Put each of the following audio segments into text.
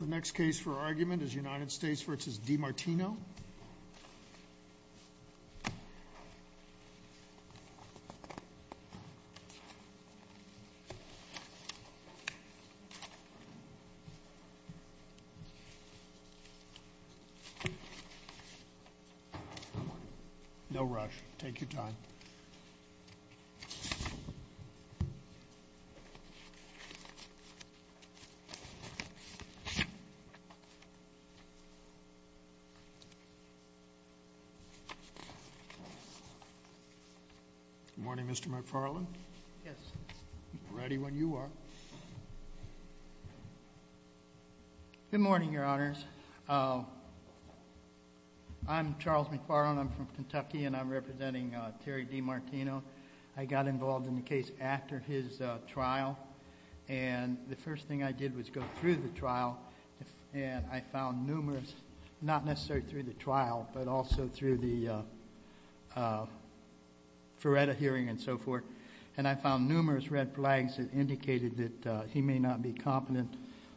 Martino. No rush. Take your time. Good morning, Mr. McFarland. Yes. Ready when you are. Good morning, Your Honors. I'm Charles McFarland. I'm from Kentucky, and I'm representing Terry Di Martino. I got involved in the case after his trial, and the first thing I did was go through the trial, and I found numerous, not necessarily through the trial, but also through the FRERETA hearing and so forth, and I found numerous red flags that indicated that he may not be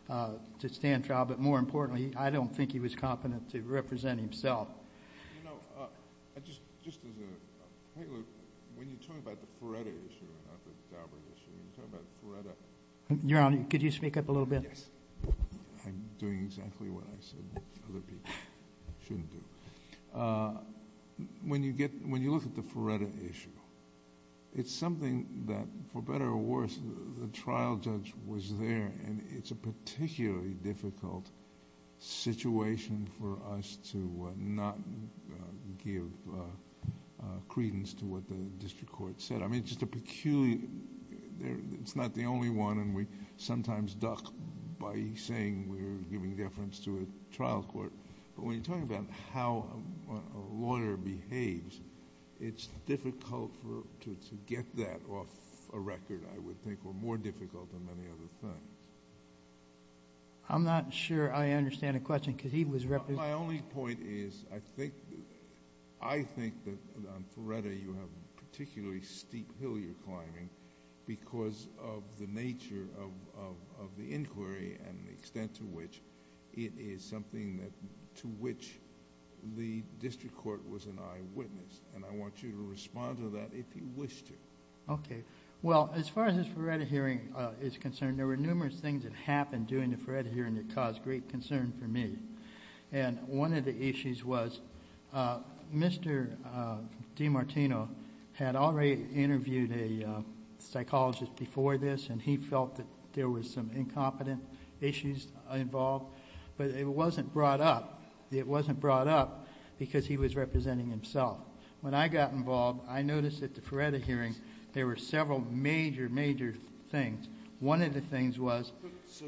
I don't think he was competent to represent himself. Your Honor, could you speak up a little bit? Yes. I'm doing exactly what I said other people shouldn't do. When you look at the FRERETA issue, it's something that, for better or worse, the trial judge was there, and it's a particularly difficult situation for us to not give credence to what the district court said. I mean, it's just a peculiar... it's not the only one, and we sometimes duck by saying we're giving deference to a trial court, but when you're talking about how a lawyer behaves, it's difficult to get that off a record, I would think, or more difficult than many other things. I'm not sure I understand the question because he was representing... My only point is I think that on FRERETA you have a particularly steep hill you're climbing because of the nature of the inquiry and the extent to which it is something to which the district court has given credence, and I want you to respond to that if you wish to. Okay. Well, as far as this FRERETA hearing is concerned, there were numerous things that happened during the FRERETA hearing that caused great concern for me, and one of the issues was Mr. DiMartino had already interviewed a psychologist before this, and he felt that there was some incompetent issues involved, but it wasn't brought up. It wasn't brought up because he was representing himself. When I got involved, I noticed at the FRERETA hearing there were several major, major things. One of the things was... So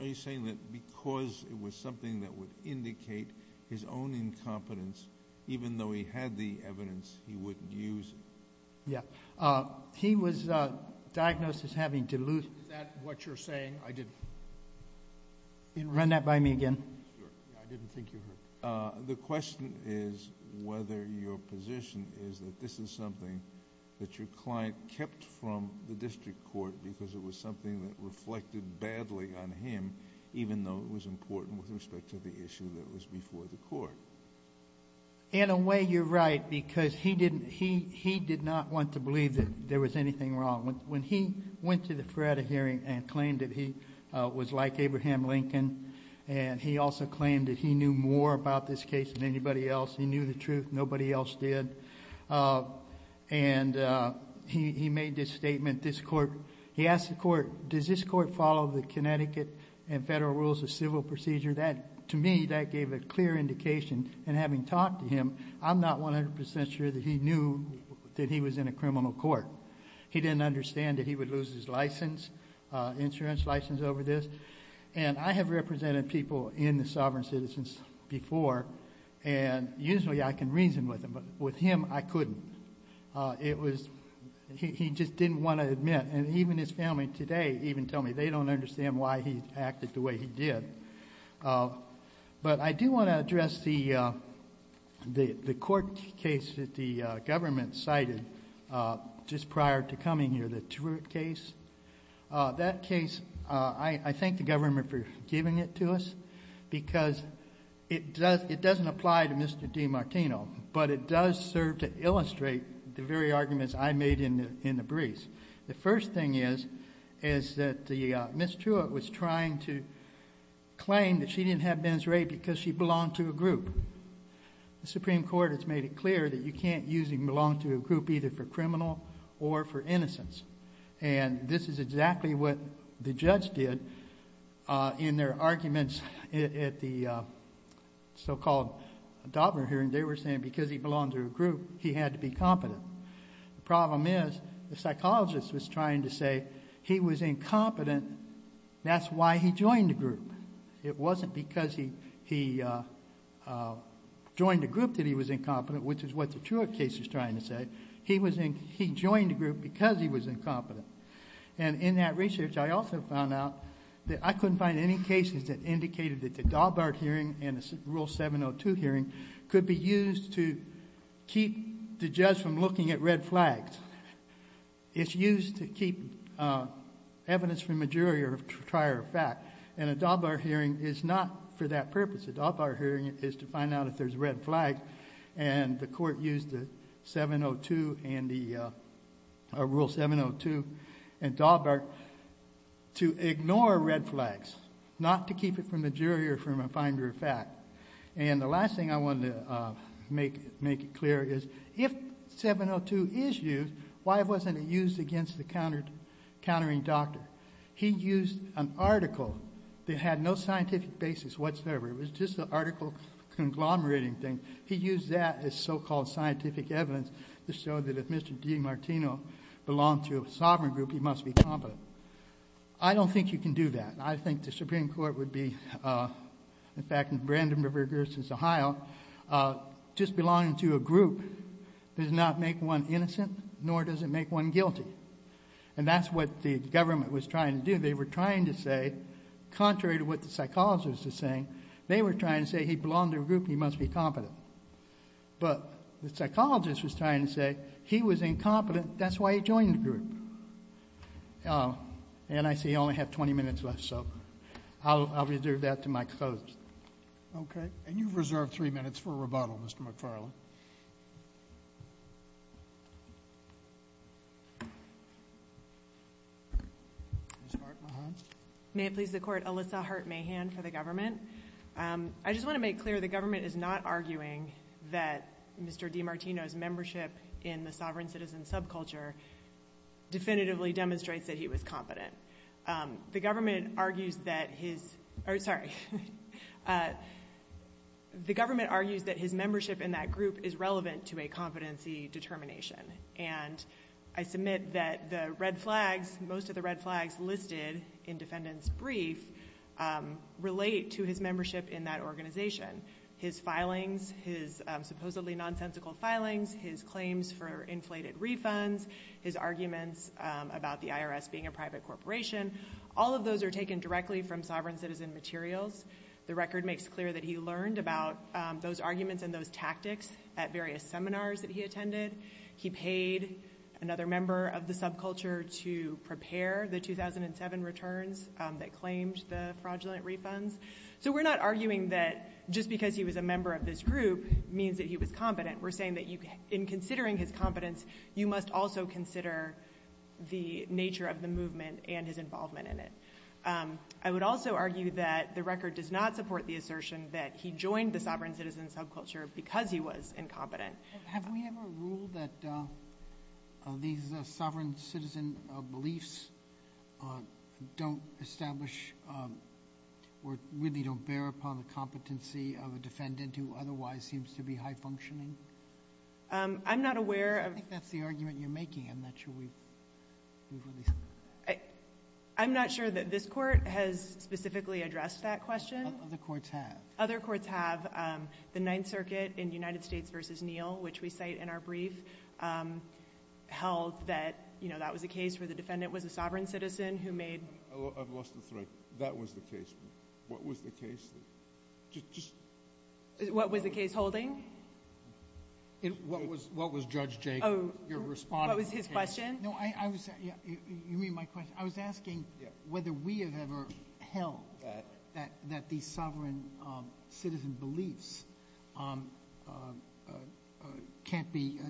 are you saying that because it was something that would indicate his own incompetence, even though he had the evidence, he wouldn't use it? Yeah. He was diagnosed as having diluted... Is that what you're saying? I didn't... Run that by me again. Sure. I didn't think you heard that. The question is whether your position is that this is something that your client kept from the district court because it was something that reflected badly on him, even though it was important with respect to the issue that was before the court. In a way, you're right, because he did not want to believe that there was anything wrong. When he went to the FRERETA hearing and claimed that he was like Abraham Lincoln, and he also claimed that he knew more about this case than anybody else, he knew the truth, nobody else did, and he made this statement. This court... He asked the court, does this court follow the Connecticut and federal rules of civil procedure? To me, that gave a clear indication, and having talked to him, I'm not 100% sure that he knew that he was in a criminal court. He didn't understand that he would lose his license, insurance license over this. I have represented people in the Sovereign Citizens before, and usually I can reason with them, but with him, I couldn't. He just didn't want to admit, and even his family today even tell me they don't understand why he acted the way he did. I do want to address the court case that the government cited just prior to coming here, the Truitt case. That case, I thank the government for giving it to us, because it doesn't apply to Mr. DiMartino, but it does serve to illustrate the very arguments I made in the briefs. The first thing is, is that Ms. Truitt was trying to claim that she didn't have men's rape because she belonged to a group. The Supreme Court has made it clear that you can't use belong to a group either for criminal or for innocence. This is exactly what the judge did in their arguments at the so-called Daubner hearing. They were saying because he belonged to a group, he had to be competent. The problem is, the psychologist was trying to say he was incompetent. That's why he joined the group. It wasn't because he joined a group that he was incompetent, which is what the Truitt case is trying to say. He joined a group because he was incompetent. In that research, I also found out that I couldn't find any cases that indicated that the Daubner hearing and the Rule 702 hearing could be used to keep the judge from looking at red flags. It's used to keep evidence from a jury or a trier of fact, and a Daubner hearing is not for that purpose. The Daubner hearing is to find out if there's red flags, and the court used Rule 702 and Daubner to ignore red flags, not to keep it from the jury or from a finder of fact. The last thing I wanted to make clear is, if 702 is used, why wasn't it used against the countering doctor? He used an article that had no scientific basis whatsoever. It was just an article conglomerating things. He used that as so-called scientific evidence to show that if Mr. D. Martino belonged to a sovereign group, he must be competent. I don't think you can do that. I think the Supreme Court would be, in fact, in Brandenburg versus Ohio, just belonging to a group does not make one innocent, nor does it make one guilty. And that's what the government was trying to do. They were trying to say, contrary to what the psychologists were saying, they were trying to say, he belonged to a group, he must be competent. But the psychologist was trying to say, he was incompetent, that's why he joined the group. And I see I only have 20 minutes left, so I'll reserve that to my closest. Okay. And you've reserved three minutes for rebuttal, Mr. McFarland. Ms. Hart-Mahan? May it please the Court, Alyssa Hart-Mahan for the government. I just want to make clear, the government is not arguing that Mr. D. Martino's membership in the sovereign citizen subculture definitively demonstrates that he was competent. The government argues that his membership in that group is relevant to a competency determination. And I submit that the red flags, most of the red flags listed in defendant's brief relate to his membership in that organization. His filings, his supposedly nonsensical filings, his claims for inflated refunds, his arguments about the IRS being a private corporation, all of those are taken directly from sovereign citizen materials. The record makes clear that he learned about those arguments and those tactics at various seminars that he attended. He paid another member of the subculture to prepare the 2007 returns that claimed the fraudulent refunds. So we're not arguing that just because he was a member of this group means that he was competent. We're saying that in considering his competence, you must also consider the nature of the movement and his involvement in it. I would also argue that the record does not support the assertion that he joined the sovereign citizen subculture because he was incompetent. Have we ever ruled that these sovereign citizen beliefs don't establish or really don't bear upon the competency of a defendant who otherwise seems to be high-functioning? I'm not aware of — I think that's the argument you're making. I'm not sure we've released it. I'm not sure that this Court has specifically addressed that question. Other courts have. Other courts have. The Ninth Circuit in United States v. Neal, which we cite in our brief, held that, you know, that was a case where the defendant was a sovereign citizen who made — I've lost the thread. That was the case. What was the case? What was the case holding? What was — what was Judge Jacob, your respondent's case? Oh. What was his question? No. I was — yeah. You mean my question? I was asking — Yeah. — whether we have ever held that these sovereign citizen beliefs can't be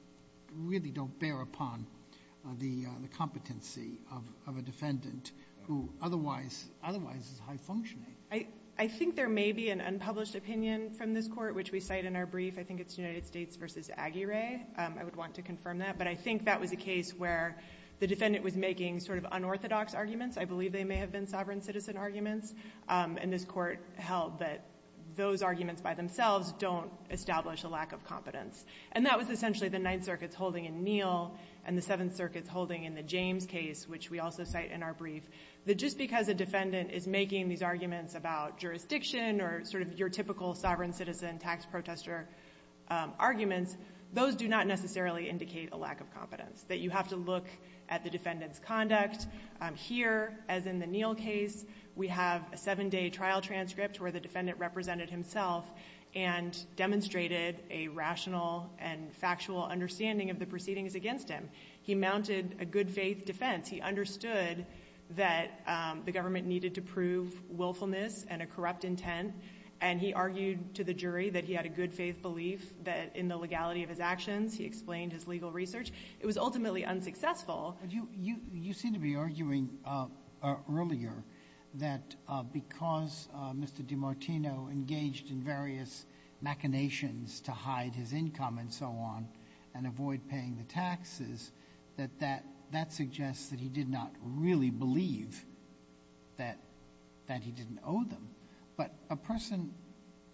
— really don't bear upon the competency of a defendant who otherwise — otherwise is high-functioning. I think there may be an unpublished opinion from this Court, which we cite in our brief. I think it's United States v. Aguirre. I would want to confirm that. But I think that was a case where the defendant was making sort of unorthodox arguments. I believe they may have been sovereign citizen arguments. And this Court held that those arguments by themselves don't establish a lack of competence. And that was essentially the Ninth Circuit's holding in Neal and the Seventh Circuit's holding in the James case, which we also cite in our brief, that just because a defendant And I think that was a case where the defendant was making sort of unorthodox arguments. about jurisdiction or sort of your typical sovereign citizen tax protester arguments, those do not necessarily indicate a lack of competence, that you have to look at the defendant's conduct. Here, as in the Neal case, we have a seven-day trial transcript where the defendant represented himself and demonstrated a rational and factual understanding of the proceedings against him. He mounted a good-faith defense. He understood that the government needed to prove willfulness and a corrupt intent. And he argued to the jury that he had a good-faith belief that in the legality of his actions, he explained his legal research. It was ultimately unsuccessful. But you seem to be arguing earlier that because Mr. DiMartino engaged in various machinations to hide his income and so on and avoid paying the taxes, that that suggests that he did not really believe that he didn't owe them. But a person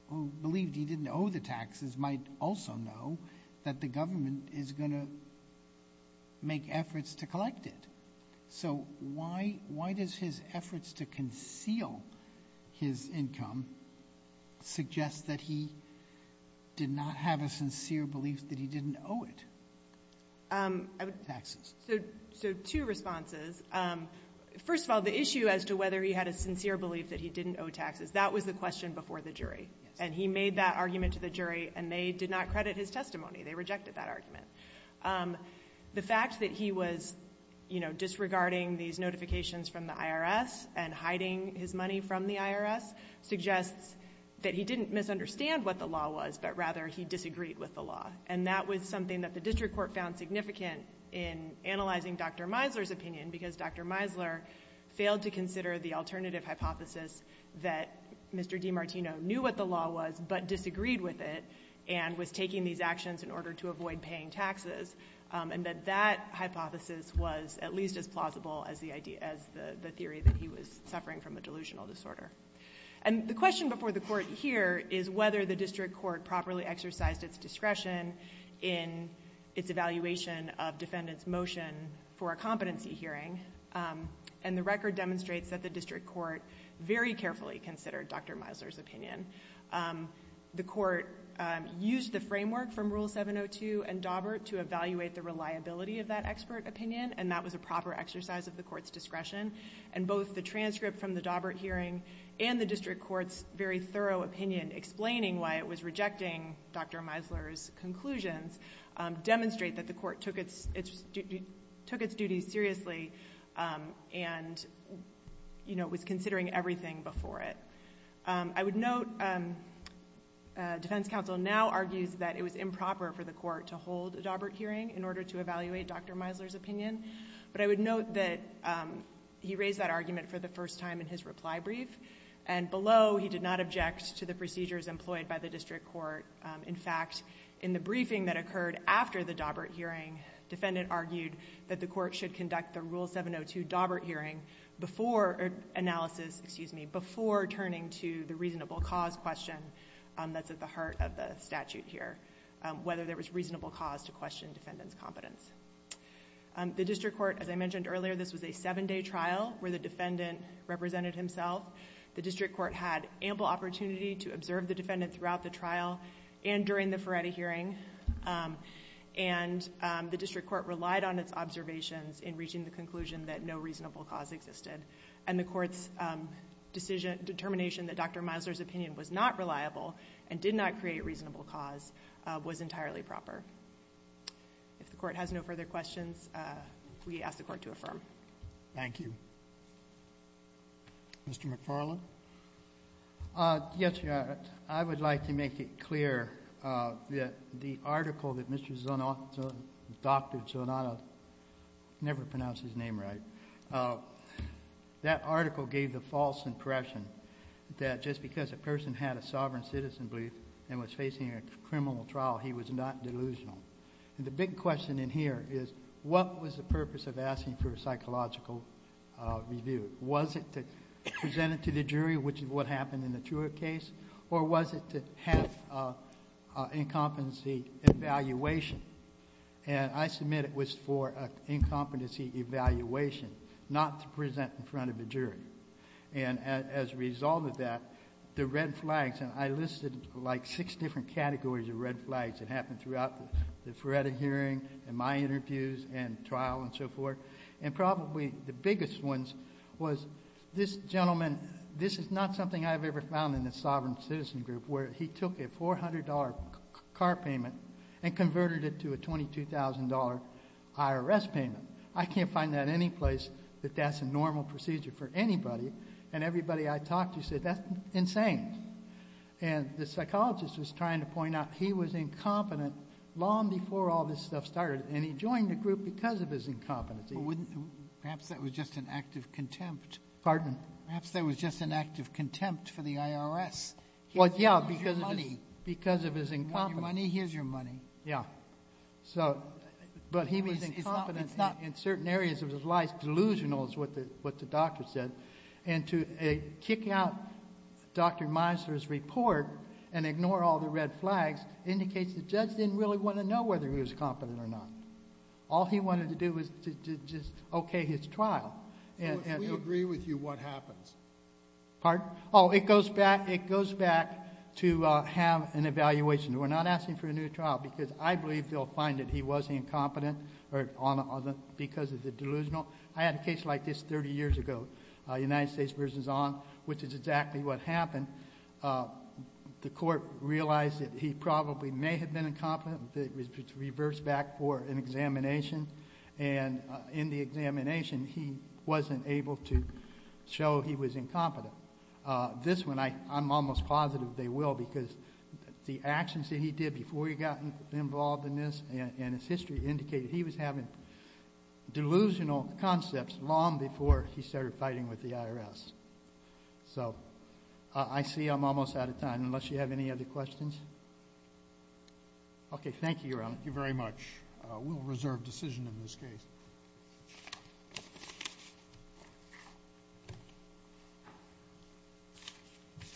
who believed he didn't owe the taxes might also know that the government is going to make efforts to collect it. So why does his efforts to conceal his income suggest that he did not have a sincere belief that he didn't owe it? Taxes. So two responses. First of all, the issue as to whether he had a sincere belief that he didn't owe taxes, that was the question before the jury. And he made that argument to the jury, and they did not credit his testimony. They rejected that argument. The fact that he was, you know, disregarding these notifications from the IRS and hiding his money from the IRS suggests that he didn't misunderstand what the law was, but rather he disagreed with the law. And that was something that the district court found significant in analyzing Dr. Meisler's opinion because Dr. Meisler failed to consider the alternative hypothesis that Mr. DiMartino knew what the law was but disagreed with it and was taking these actions in order to avoid paying taxes. And that that hypothesis was at least as plausible as the theory that he was suffering from a delusional disorder. And the question before the court here is whether the district court properly exercised its discretion in its evaluation of defendant's motion for a competency hearing. And the record demonstrates that the district court very carefully considered Dr. Meisler's opinion. The court used the framework from Rule 702 and Daubert to evaluate the reliability of that expert opinion, and that was a proper exercise of the court's discretion. And both the transcript from the Daubert hearing and the district court's very Dr. Meisler's conclusions demonstrate that the court took its duties seriously and, you know, was considering everything before it. I would note defense counsel now argues that it was improper for the court to hold a Daubert hearing in order to evaluate Dr. Meisler's opinion. But I would note that he raised that argument for the first time in his reply brief, and below he did not object to the procedures employed by the district court. In fact, in the briefing that occurred after the Daubert hearing, defendant argued that the court should conduct the Rule 702 Daubert hearing before analysis, excuse me, before turning to the reasonable cause question that's at the heart of the statute here, whether there was reasonable cause to question defendant's competence. The district court, as I mentioned earlier, this was a seven-day trial where the defendant represented himself. The district court had ample opportunity to observe the defendant throughout the trial and during the Ferretti hearing, and the district court relied on its observations in reaching the conclusion that no reasonable cause existed. And the court's determination that Dr. Meisler's opinion was not reliable and did not create reasonable cause was entirely proper. If the court has no further questions, we ask the court to affirm. Thank you. Mr. McFarland? Yes, Your Honor. I would like to make it clear that the article that Mr. Zanotto, Dr. Zanotto, never pronounced his name right, that article gave the false impression that just because a person had a sovereign citizen belief and was facing a criminal trial, he was not delusional. And the big question in here is what was the purpose of asking for a review? Was it to present it to the jury, which is what happened in the Truer case, or was it to have an incompetency evaluation? And I submit it was for an incompetency evaluation, not to present in front of the jury. And as a result of that, the red flags, and I listed like six different categories of red flags that happened throughout the Ferretti hearing and my interviews and trial and so forth. And probably the biggest ones was this gentleman, this is not something I've ever found in the sovereign citizen group, where he took a $400 car payment and converted it to a $22,000 IRS payment. I can't find that any place that that's a normal procedure for anybody. And everybody I talked to said that's insane. And the psychologist was trying to point out he was incompetent long before all this stuff started. And he joined the group because of his incompetency. Perhaps that was just an act of contempt. Pardon? Perhaps that was just an act of contempt for the IRS. Well, yeah, because of his incompetence. You want your money? Here's your money. Yeah. But he was incompetent in certain areas of his life. Delusional is what the doctor said. And to kick out Dr. Meisler's report and ignore all the red flags indicates the judge didn't really want to know whether he was competent or not. All he wanted to do was to just okay his trial. So if we agree with you, what happens? Pardon? Oh, it goes back to have an evaluation. We're not asking for a new trial because I believe they'll find that he was incompetent because of the delusional. I had a case like this 30 years ago, United States v. Ong, which is exactly what happened. The court realized that he probably may have been incompetent. It was reversed back for an examination. And in the examination, he wasn't able to show he was incompetent. This one, I'm almost positive they will because the actions that he did before he got involved in this and his history indicated he was having delusional concepts long before he started fighting with the IRS. So I see I'm almost out of time unless you have any other questions. Okay. Thank you, Your Honor. Thank you very much. We'll reserve decision in this case.